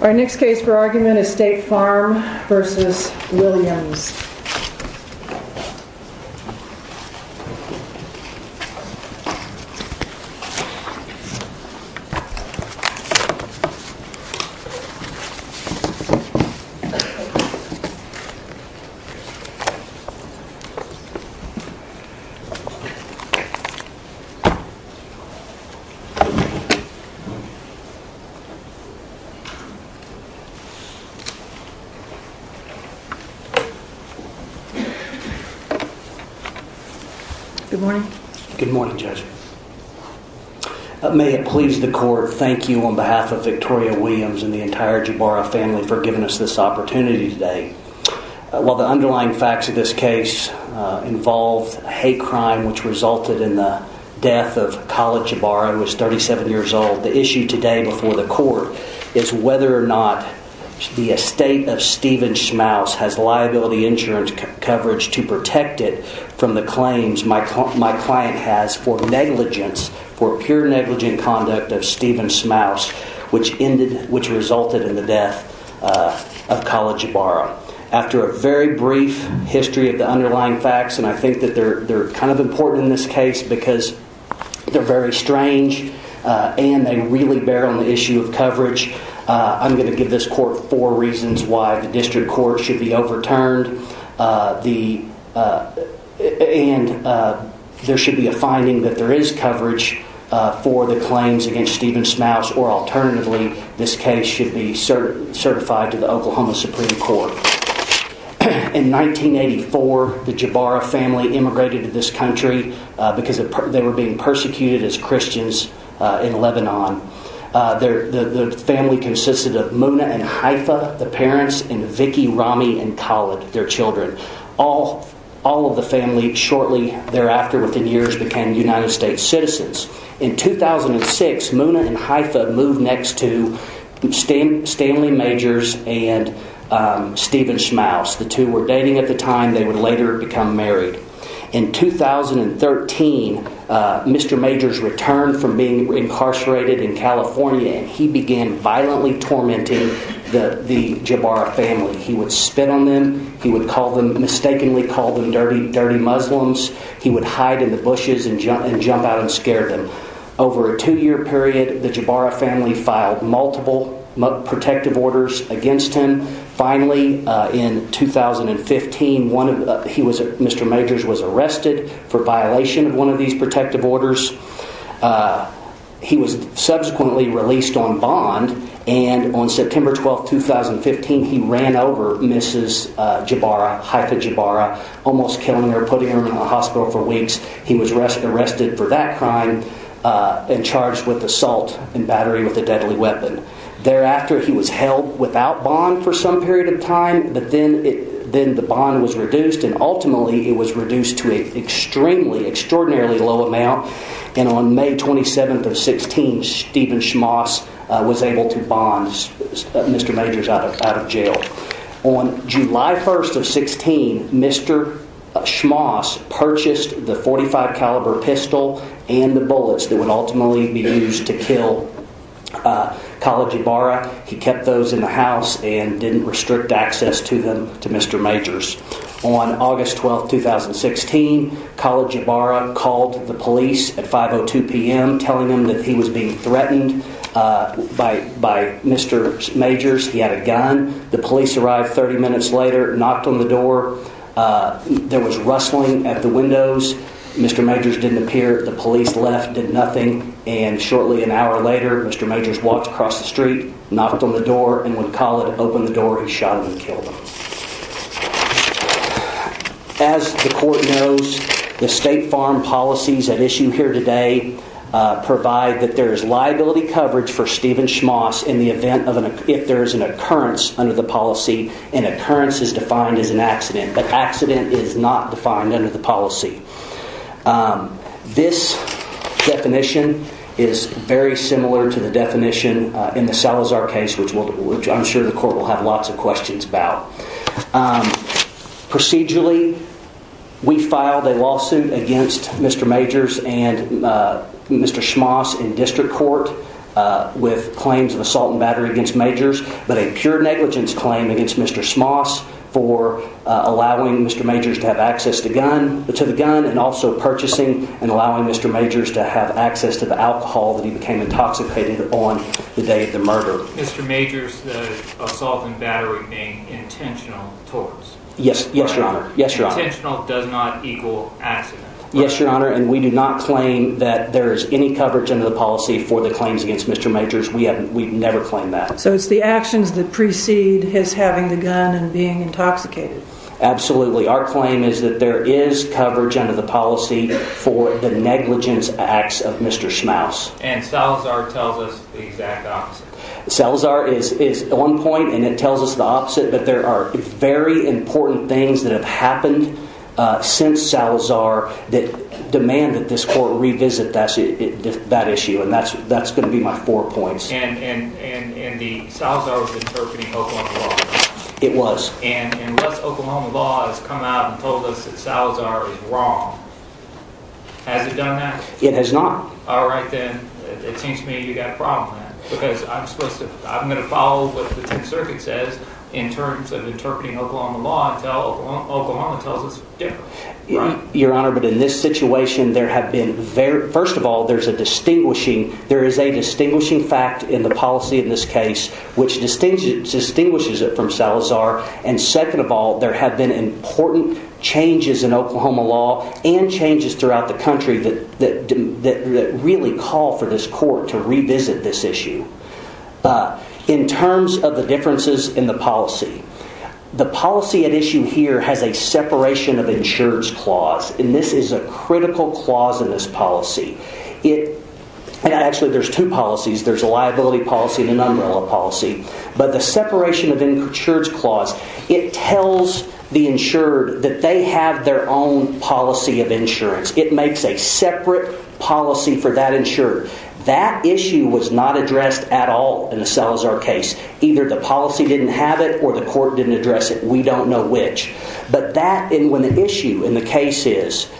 Our next case for argument is State Farm v. Williams May it please the court, thank you on behalf of Victoria Williams and the entire Jabara family for giving us this opportunity today. While the underlying facts of this case involved a hate crime which resulted in the death of Khalid Jabara who was 37 years old, the issue today before the court is whether or not the estate of Stephen Schmaus has liability insurance coverage to protect it from the claims my client has for negligence, for pure negligent conduct of Stephen Schmaus which resulted in the death of Khalid Jabara. After a very brief history of the underlying facts and I think that they're kind of important in this case because they're very strange and they really bear on the issue of coverage. I'm going to give this court four reasons why the district court should be overturned and there should be a finding that there is coverage for the claims against Stephen Schmaus or alternatively this case should be certified to the Oklahoma Supreme Court. In 1984 the family consisted of Muna and Haifa, the parents, and Vicky, Rami, and Khalid, their children. All of the family shortly thereafter within years became United States citizens. In 2006 Muna and Haifa moved next to Stanley Majors and Stephen Schmaus. The two were dating at the time they would later become married. In 2013 Mr. Majors returned from being incarcerated in California and he began violently tormenting the Jabara family. He would spit on them, he would mistakenly call them dirty Muslims, he would hide in the bushes and jump out and scare them. Over a two year period the Jabara family filed multiple protective orders against him. Finally in 2015 Mr. Majors was arrested for violation of one of these protective orders. He was subsequently released on bond and on September 12, 2015 he ran over Mrs. Jabara, Haifa Jabara, almost killing her, putting her in the hospital for weeks. He was arrested for that crime and charged with assault and battery with a deadly weapon. Thereafter he was held without bond for some period of time but then the bond was reduced and ultimately it was reduced to an extremely, extraordinarily low amount and on May 27, 2016 Stephen Schmaus was able to bond Mr. Majors out of jail. On July 1, 2016 Mr. Schmaus purchased the .45 and kept those in the house and didn't restrict access to Mr. Majors. On August 12, 2016 Khaled Jabara called the police at 5.02 p.m. telling them that he was being threatened by Mr. Majors. He had a gun. The police arrived 30 minutes later, knocked on the door. There was rustling at the windows. Mr. Majors didn't appear. The police left, did nothing and shortly an opened the door and when Khaled opened the door he shot him and killed him. As the court knows, the state farm policies at issue here today provide that there is liability coverage for Stephen Schmaus in the event of an occurrence under the policy. An occurrence is defined as an accident but accident is not defined under the policy. This definition is very I'm sure the court will have lots of questions about. Procedurally, we filed a lawsuit against Mr. Majors and Mr. Schmaus in district court with claims of assault and battery against Majors but a pure negligence claim against Mr. Schmaus for allowing Mr. Majors to have access to the gun and also purchasing and allowing Mr. Majors to have access to the assault and battery being intentional towards. Yes, yes your honor. Intentional does not equal accident. Yes your honor and we do not claim that there is any coverage under the policy for the claims against Mr. Majors. We have we've never claimed that. So it's the actions that precede his having the gun and being intoxicated. Absolutely. Our claim is that there is coverage under the policy for the negligence acts of Mr. Schmaus. And Salazar tells us the exact opposite. Salazar is one point and it tells us the opposite but there are very important things that have happened since Salazar that demand that this court revisit that issue and that's going to be my four points. And Salazar was interpreting Oklahoma law. It was. And unless Oklahoma law has come out and told us that Salazar is wrong. Has it done that? It has not. All right then it seems to me you got a problem because I'm supposed to I'm going to follow what the 10th Circuit says in terms of interpreting Oklahoma law and Oklahoma tells us different. Your honor but in this situation there have been very first of all there's a distinguishing there is a distinguishing fact in the policy in this case which distinguishes distinguishes it from Salazar. And second of all there have been important changes in Oklahoma law and changes throughout the country that really call for this court to revisit this issue. In terms of the differences in the policy the policy at issue here has a separation of insurance clause and this is a critical clause in this policy. It actually there's two policies there's a liability policy and the insured that they have their own policy of insurance. It makes a separate policy for that insured. That issue was not addressed at all in the Salazar case. Either the policy didn't have it or the court didn't address it. We don't know which. But that in when the issue in the case is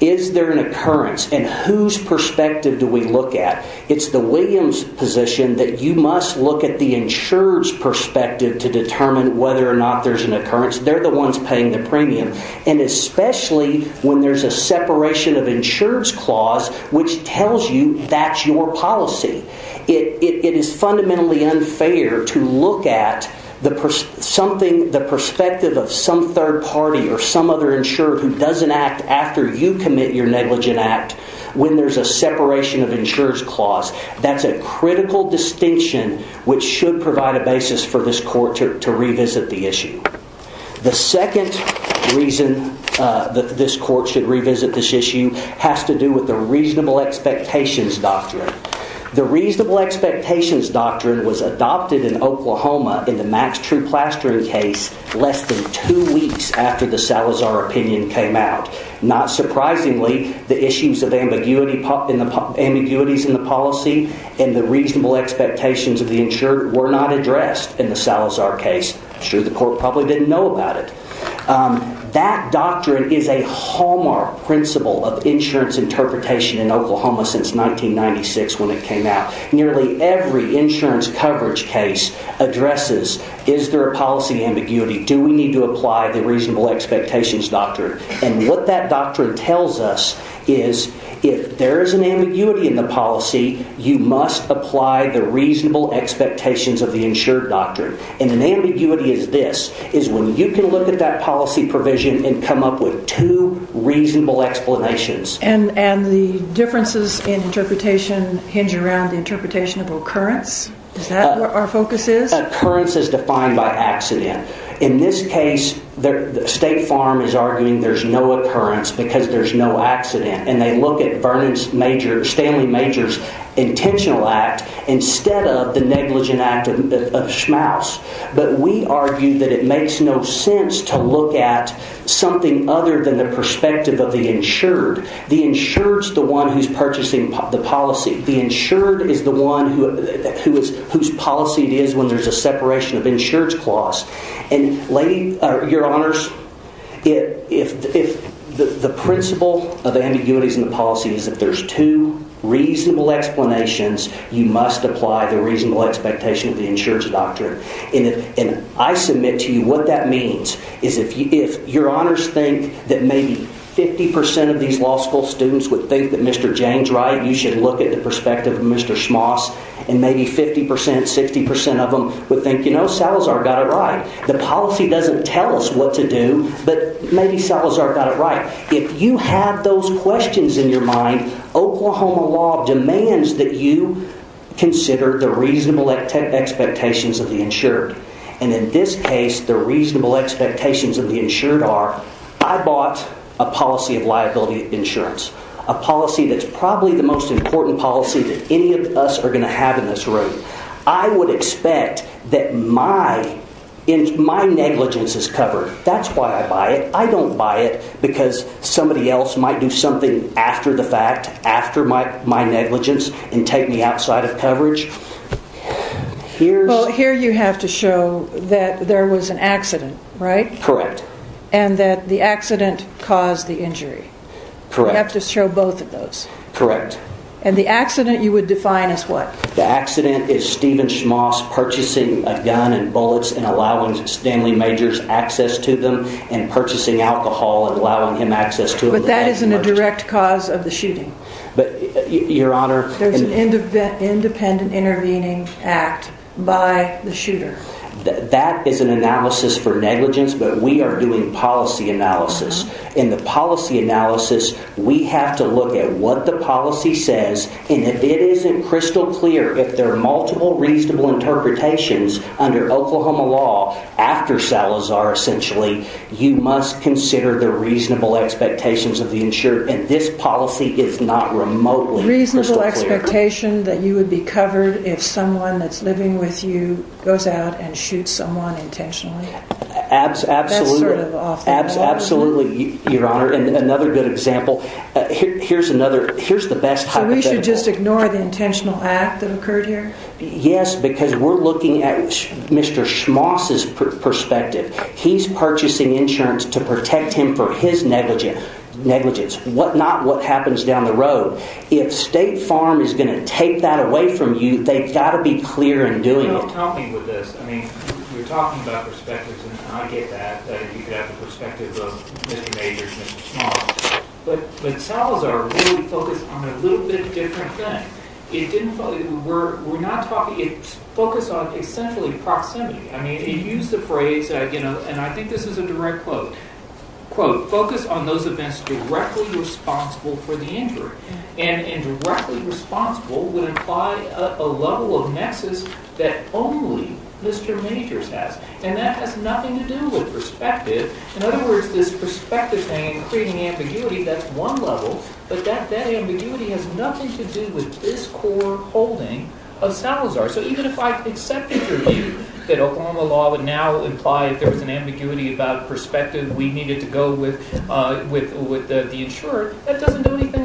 is there an occurrence and whose perspective do we look at. It's the Williams position that you must look at the insured's perspective to determine whether or not there's an occurrence. They're the ones paying the premium and especially when there's a separation of insured's clause which tells you that's your policy. It is fundamentally unfair to look at the something the perspective of some third party or some other insured who doesn't act after you commit your negligent act when there's a separation of insured's clause. That's a critical distinction which should provide a basis for this court to revisit the issue. The second reason that this court should revisit this issue has to do with the reasonable expectations doctrine. The reasonable expectations doctrine was adopted in Oklahoma in the Max True Plastering case less than two weeks after the Salazar opinion came out. Not surprisingly the issues of ambiguity pop in the ambiguities in the policy and the court probably didn't know about it. That doctrine is a hallmark principle of insurance interpretation in Oklahoma since 1996 when it came out. Nearly every insurance coverage case addresses is there a policy ambiguity? Do we need to apply the reasonable expectations doctrine? And what that doctrine tells us is if there is an ambiguity in the policy you must apply the reasonable expectations of the insured doctrine. And an ambiguity is this, is when you can look at that policy provision and come up with two reasonable explanations. And the differences in interpretation hinge around the interpretation of occurrence? Is that what our focus is? Occurrence is defined by accident. In this case the state farm is arguing there's no occurrence because there's no accident. And they look at Stanley Majors intentional act instead of the negligent act of Schmaus. But we argue that it makes no sense to look at something other than the perspective of the insured. The insured's the one who's purchasing the policy. The insured is the one whose policy it is when there's a separation of insurance clause. And lady, your honors, if the principle of ambiguities in the policy is that there's two reasonable explanations you must apply the reasonable expectation of the insured's doctrine. And I submit to you what that means is if your honors think that maybe 50% of these law school students would think that Mr. James Wright you should look at the perspective of Mr. Schmaus and maybe 50%, 60% of them would think you know Salazar got it right. The policy doesn't tell us what to do but maybe Salazar got it right. If you have those questions in your mind Oklahoma law demands that you consider the reasonable expectations of the insured. And in this case the reasonable expectations of the insured are I bought a policy of liability insurance. A policy that's probably the most important policy that any of us are going to have in this room. I would expect that my negligence is covered. That's why I buy it. I don't buy it because somebody else might do something after the fact, after my negligence and take me outside of coverage. Here you have to show that there was an accident, right? Correct. And that the accident caused the injury. Correct. You have to show both of those. Correct. And the accident you would define as what? The accident is Stephen Schmaus purchasing a gun and bullets and allowing Stanley Majors access to them and purchasing alcohol and allowing him access to them. But that isn't a direct cause of the shooting. But your honor. There's an independent intervening act by the shooter. That is an analysis for negligence but we are doing policy analysis. In the policy analysis we have to look at what the policy says and if it isn't crystal clear, if there are multiple reasonable interpretations under Oklahoma law after Salazar essentially, you must consider the reasonable expectations of the insurer. And this policy is not remotely crystal clear. Reasonable expectation that you would be covered if someone that's living with you goes out and shoots someone intentionally. Absolutely. That's sort of off the board. Absolutely, your honor. And another good example. Here's another, here's the best hypothetical. So we should just ignore the intentional act that occurred here? Yes, because we're looking at Mr. Schmaus' perspective. He's purchasing insurance to protect him for his negligence, not what happens down the road. If State Farm is going to take that away from you, they've got to be clear in doing it. You're talking about perspectives and I get that, that you have the perspective of Mr. Majors and Mr. Schmaus, but Salazar really focused on a little bit different thing. It didn't focus, we're not talking, it focused on essentially proximity. I mean, he used the phrase, and I think this is a direct quote, quote, focus on those events directly responsible for the injury. And directly responsible would imply a level of nexus that only Mr. Majors has. And that has nothing to do with perspective. In other words, this perspective thing and creating ambiguity, that's one level, but that ambiguity has nothing to do with this core holding of Salazar. So even if I accepted your view that Oklahoma law would now imply if there was an ambiguity about perspective, we needed to go with the insurer, that doesn't do anything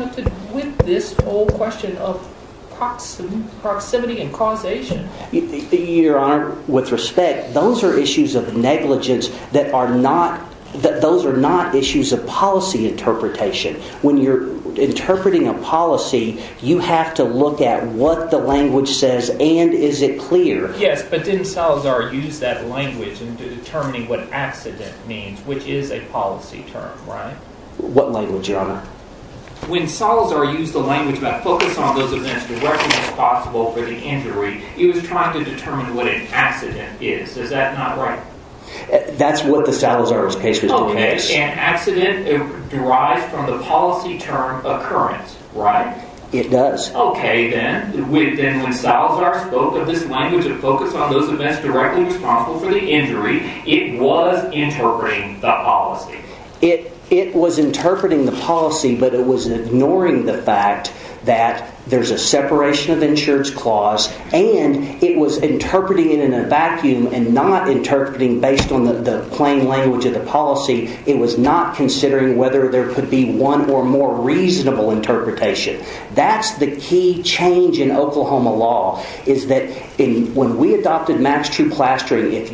with this whole question of proximity and causation. Your Honor, with respect, those are issues of negligence that are not, that those are not issues of policy interpretation. When you're interpreting a policy, you have to look at what the language says and is it clear. Yes, but didn't Salazar use that language in determining what accident means, which is a policy term, right? What language, Your Honor? When Salazar used the language about focus on those events directly responsible for the injury, he was trying to determine what an accident is. Is that not right? That's what the Salazar's case was doing. Okay, an accident derives from the policy term occurrence, right? It does. Okay, then, when Salazar spoke of this language of focus on those events directly responsible for the injury, it was interpreting the policy. It was interpreting the policy, but it was ignoring the fact that there's a separation of insurance clause and it was interpreting it in a vacuum and not interpreting based on the plain language of the policy. It was not considering whether there could be one or more reasonable interpretation. That's the key change in Oklahoma law, is that when we adopted Max True Plastering, if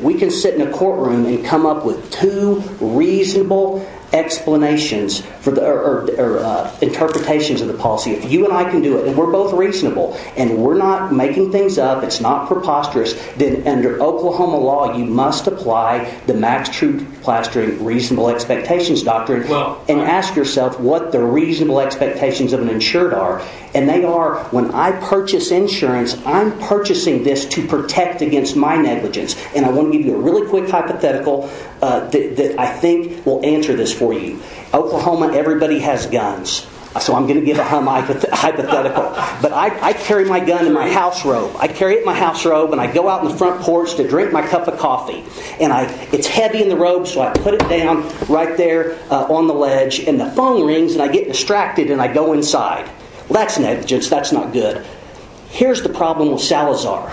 we can sit in a courtroom and come up with two reasonable explanations or interpretations of the policy, if you and I can do it and we're both reasonable and we're not making things up, it's not preposterous, then under Oklahoma law, you must apply the Max True Plastering reasonable expectations doctrine and ask yourself what the reasonable expectations of an insured are, and they are, when I purchase insurance, I'm purchasing this to protect against my negligence, and I want to give you a really quick hypothetical that I think will answer this for you. Oklahoma, everybody has guns, so I'm going to give a hypothetical, but I carry my gun in my house robe. I carry it in my house robe and I go out in the front porch to drink my cup of coffee, and it's heavy in the robe, so I put it down right there on the ledge, and the phone rings and I get distracted and I go inside. That's negligence, that's not good. Here's the problem with Salazar.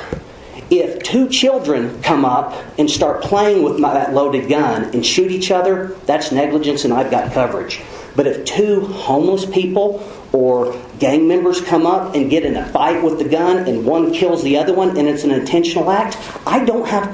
If two children come up and start playing with that loaded gun and shoot each other, that's negligence and I've got coverage. But if two homeless people or gang members come up and get in a fight with the gun and one kills the other one and it's an intentional act, I don't have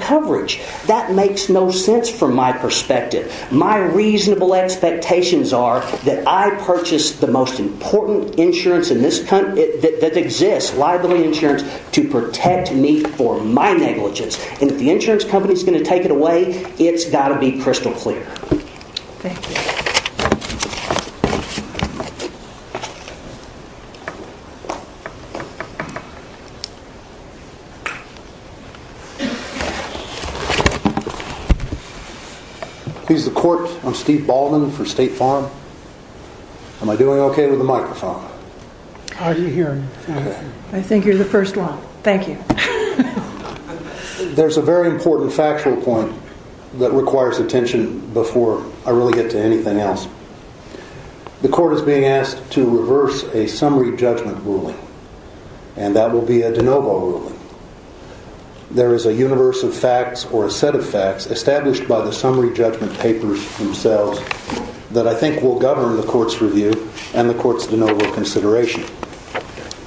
that perspective. My reasonable expectations are that I purchase the most important insurance that exists, liability insurance, to protect me from my negligence, and if the insurance company is going to take it away, it's got to be crystal clear. He's the court. I'm Steve Baldwin for State Farm. Am I doing okay with the microphone? I think you're the first one. Thank you. There's a very important factual point that requires attention before I really get to anything else. The court is being asked to reverse a summary judgment ruling, and that will be a de novo ruling. There is a universe of facts or a set of facts established by the summary judgment papers themselves that I think will govern the court's review and the court's de novo consideration.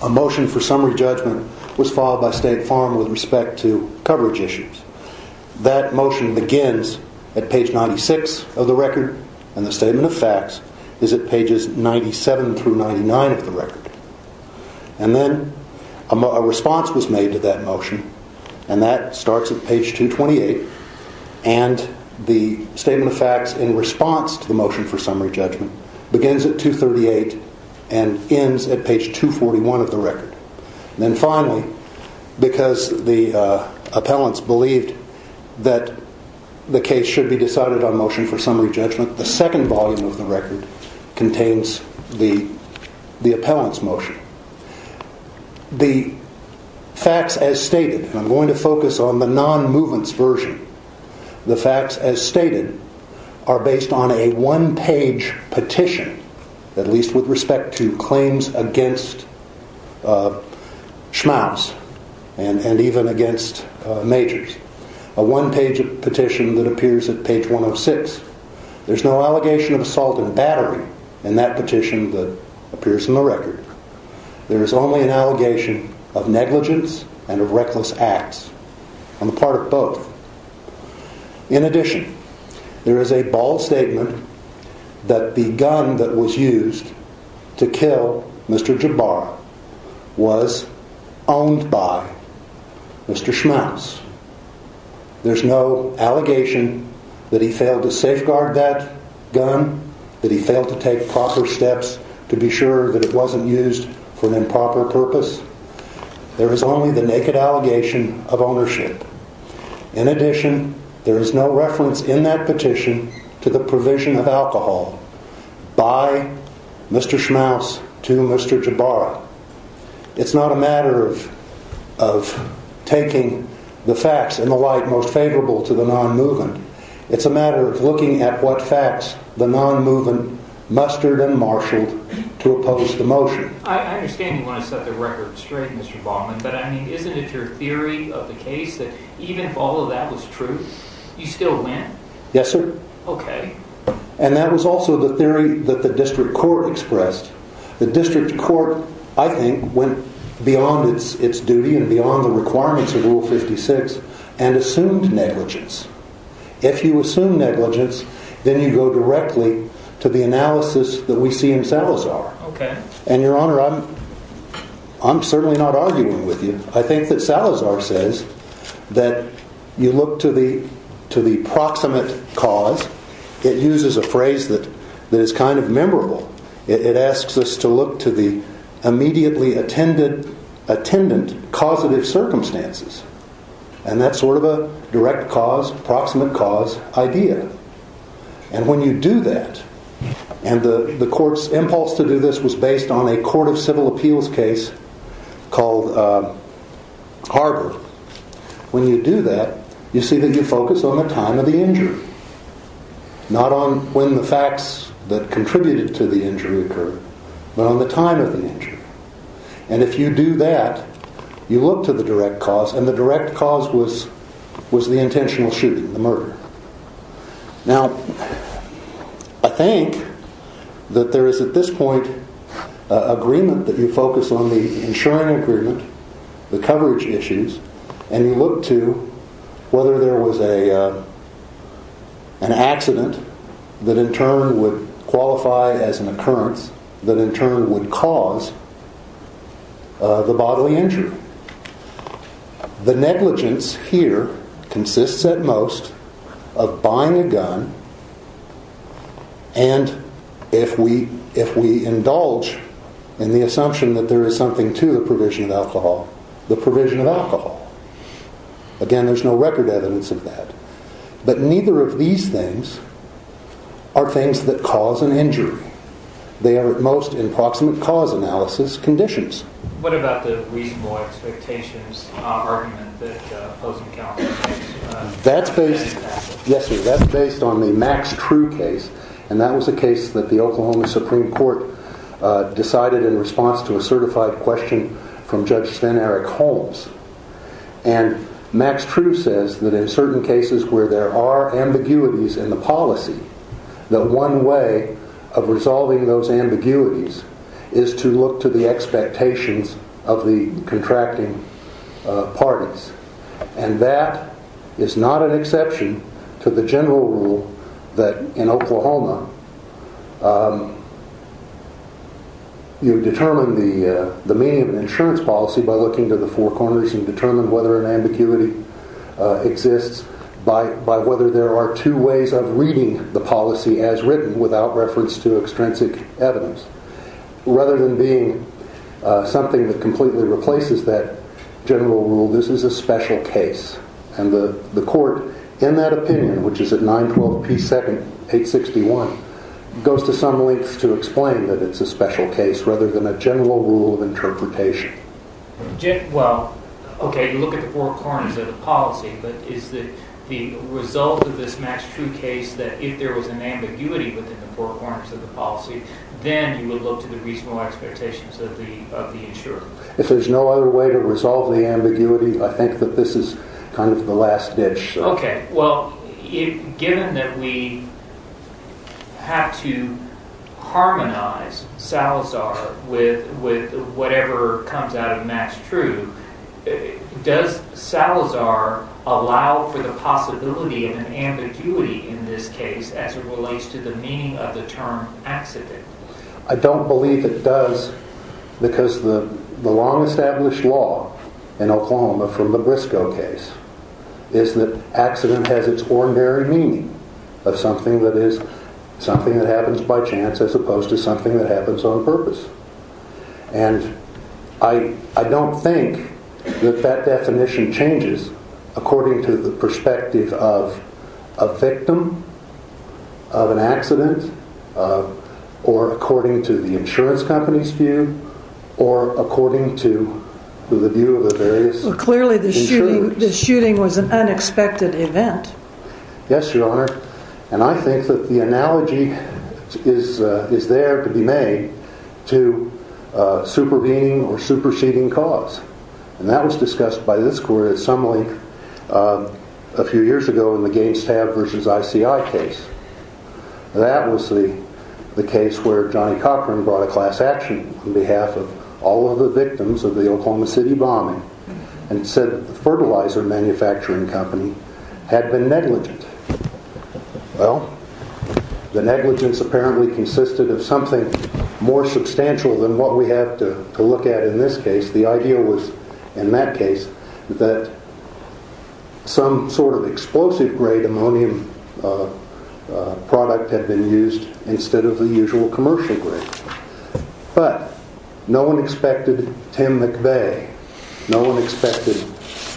A motion for summary judgment was filed by State Farm with respect to coverage issues. That motion begins at page 96 of the record, and the statement of facts is at pages 97 through 99 of the record. And then a response was made to that motion. The statement of facts in response to the motion for summary judgment begins at 238 and ends at page 241 of the record. Then finally, because the appellants believed that the case should be decided on motion for summary judgment, the second volume of the record contains the appellant's motion. The facts as stated, and I'm going to focus on the non-movements version, the facts as stated are based on a one-page petition, at least with respect to claims against Schmaus and even against Majors. A one-page petition that appears at page 106. There's no allegation of assault and battery in that petition that In addition, there is a bold statement that the gun that was used to kill Mr. Jabbar was owned by Mr. Schmaus. There's no allegation that he failed to safeguard that gun, that he failed to take proper steps to be sure that it wasn't used for an improper purpose. There is only the naked allegation of ownership. In addition, there is no reference in that petition to the provision of alcohol by Mr. Schmaus to Mr. Jabbar. It's not a matter of taking the facts and the like most favorable to the non-movement. It's a matter of looking at what facts the non-movement mustered and marshaled to oppose the motion. I understand you want to set the record straight, Mr. Baldwin, but I mean, isn't it your theory of the case that even if all of that was true, you still win? Yes, sir. Okay. And that was also the theory that the district court expressed. The district court, I think, went beyond its duty and beyond the requirements of Rule 56 and assumed negligence. If you assume negligence, then you go directly to the analysis that we see in Salazar. Okay. And, Your Honor, I'm certainly not arguing with you. I think that Salazar says that you look to the proximate cause. It uses a phrase that is kind of memorable. It asks us to look to the immediately attendant causative circumstances. And that's sort of a direct cause, proximate cause idea. And when you do that, and the court's impulse to do this was based on a court of civil appeals case called Harbor. When you do that, you see that you focus on the time of the injury, not on when the facts that contributed to the injury occurred, but on the time of the injury. And if you do that, you look to the direct cause, and the direct cause was the intentional shooting, the murder. Now, I think that there is at this point agreement that you focus on the insuring agreement, the coverage issues, and you look to whether there was an accident that in turn would qualify as an occurrence that in turn would cause the bodily injury. The negligence here consists at most of buying a gun, and if we indulge in the assumption that there is something to the provision of alcohol, the provision of alcohol. Again, there's no record evidence of that. But neither of these things are things that cause an injury. They are at most in proximate cause analysis conditions. What about the reasonable expectations argument that opposing counsel makes? That's based, yes sir, that's based on the Max True case, and that was a case that the Oklahoma Supreme Court decided in response to a certified question from Judge Sven Eric Holmes. And Max True says that in certain cases where there are ambiguities in the policy, that one way of resolving those ambiguities is to look to the expectations of the contracting parties. And that is not an exception to the general rule that in Oklahoma you determine the meaning of an insurance policy by looking to the four corners and determine whether an ambiguity exists by whether there are two ways of reading the policy as written without reference to extrinsic evidence. Rather than being something that completely replaces that general rule, this is a special case. And the court in that opinion, which is at 912 P. 7861, goes to some lengths to explain that it's a special case rather than a general rule of interpretation. Well, okay, you look at the four corners of the policy, but is the result of this Max True case that if there was an ambiguity within the four corners of the policy, then you would look to the reasonable expectations of the insurer? If there's no other way to resolve the ambiguity, I think that this is kind of the last ditch. Okay, well, given that we have to harmonize Salazar with whatever comes out of Max True, does Salazar allow for the possibility of an ambiguity in this case as it relates to the meaning of the term accident? I don't believe it does because the long established law in Oklahoma from the Briscoe case is that accident has its ordinary meaning of something that happens by chance as opposed to something that happens on purpose. And I don't think that that definition changes according to the perspective of a victim, of an accident, or according to the insurance company's view, or according to the view of the various insurers. So clearly the shooting was an unexpected event. Yes, Your Honor. And I think that the analogy is there to be made to supervening or superseding cause. And that was discussed by this court at some length a few years ago in the Gaines Tab versus ICI case. That was the case where Johnny Cochran brought a class action on behalf of all of the victims of the Oklahoma City bombing and said the fertilizer manufacturing company had been negligent. Well, the negligence apparently consisted of something more substantial than what we have to look at in this case. The idea was, in that case, that some sort of explosive grade ammonium product had been used instead of the usual commercial grade. But no one expected Tim McVeigh. No one expected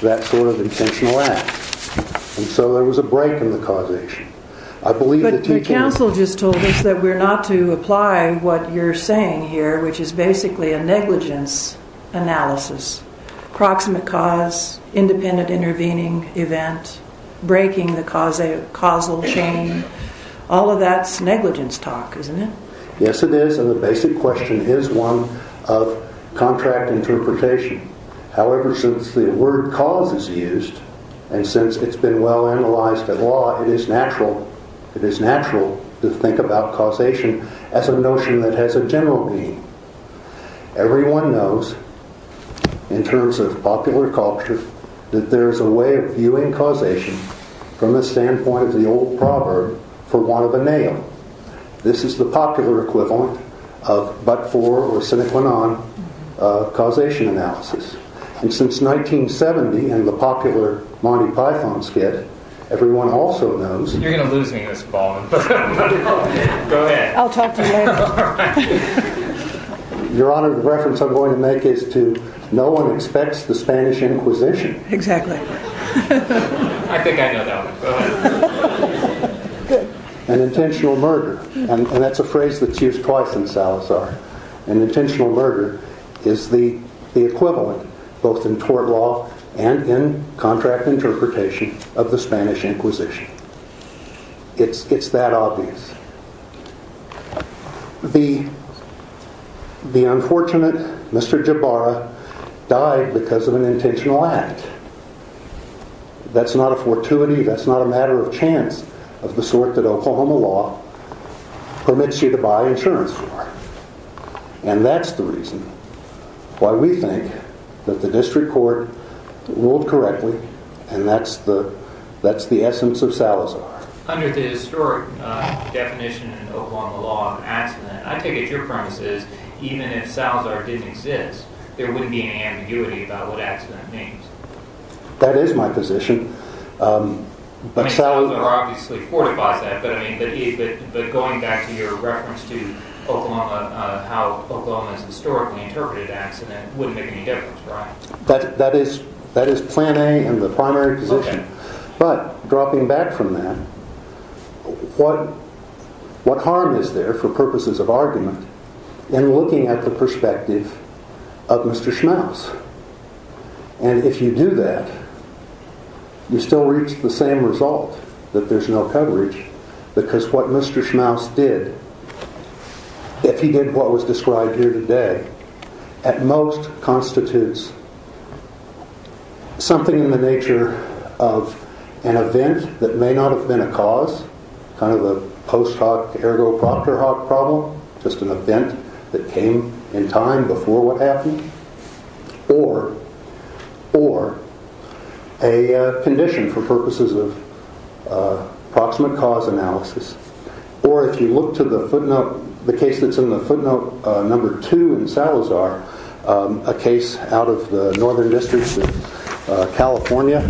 that sort of intentional act. And so there was a break in the causation. I believe that... But your counsel just told us that we're not to apply what you're saying here, which is basically a negligence analysis. Proximate cause, independent intervening event, breaking the causal chain. All of that's negligence talk, isn't it? Yes, it is. And the basic question is one of contract interpretation. However, since the word cause is used, and since it's been well analyzed at law, it is natural to think about causation as a notion that has a general meaning. Everyone knows, in terms of popular culture, that there is a way of viewing causation from the standpoint of the old proverb, for the popular equivalent of but for or sine qua non causation analysis. And since 1970 and the popular Monty Python skit, everyone also knows... You're going to lose me in this, Baldwin. Go ahead. I'll talk to you later. Your Honor, the reference I'm going to make is to no one expects the Spanish Inquisition. I think I know that one. Go ahead. An intentional murder. And that's a phrase that's used twice in Salazar. An intentional murder is the equivalent, both in tort law and in contract interpretation, of the Spanish Inquisition. It's that obvious. The unfortunate Mr. Jabara died because of an intentional act. That's not a fortuity, that's not a matter of chance of the sort that Oklahoma law permits you to buy insurance for. And that's the reason why we think that the district court ruled correctly, and that's the essence of Salazar. Under the historic definition in Oklahoma law of accident, I take it your premise is that even if Salazar didn't exist, there wouldn't be any ambiguity about what accident means. That is my position. I mean, Salazar obviously fortifies that, but going back to your reference to how Oklahoma has historically interpreted accident wouldn't make any difference, right? That is plan A and the primary position. But, dropping back from that, what harm is there for purposes of argument in looking at the perspective of Mr. Schmaus? And if you do that, you still reach the same result, that there's no coverage, because what Mr. Schmaus did, if he did what was described here today, at most constitutes something in the nature of an event that may not have been a cause, kind of a post hoc ergo proctor hoc problem, just an event that came in time before what happened, or a condition for purposes of approximate cause analysis. Or if you look to the footnote, the case that's in the footnote number two in Salazar, a case out of the Northern Districts of California,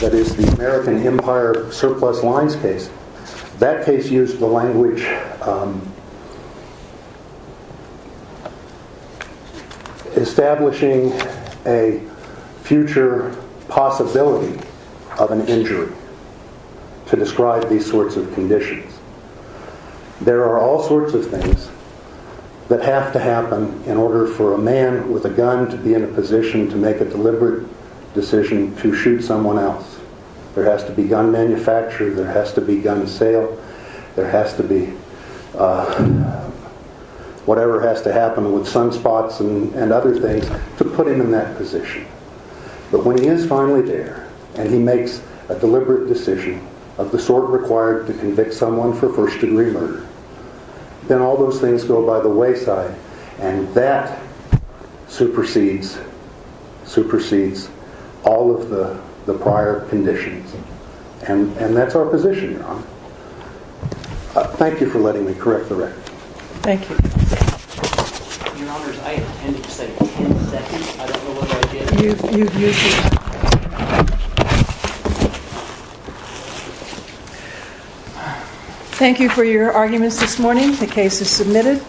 that is the American Empire surplus lines case, that case used the language establishing a future possibility of an injury to describe these sorts of conditions. There are all sorts of things that have to happen in order for a man with a gun to be in a position to make a deliberate decision to shoot someone else. There has to be gun manufacture, there has to be gun sale, there has to be whatever has to happen with sunspots and other things to put him in that position. But when he is finally there, and he makes a deliberate decision of the sort required to convict someone for first degree murder, then all those things go by the wayside, and that supersedes all of the prior conditions. And that's our position, Your Honor. Thank you for letting me correct the record. Thank you. Your Honor, I intended to say ten seconds, I don't know whether I did. You've used it. Thank you for your arguments this morning. The case is submitted.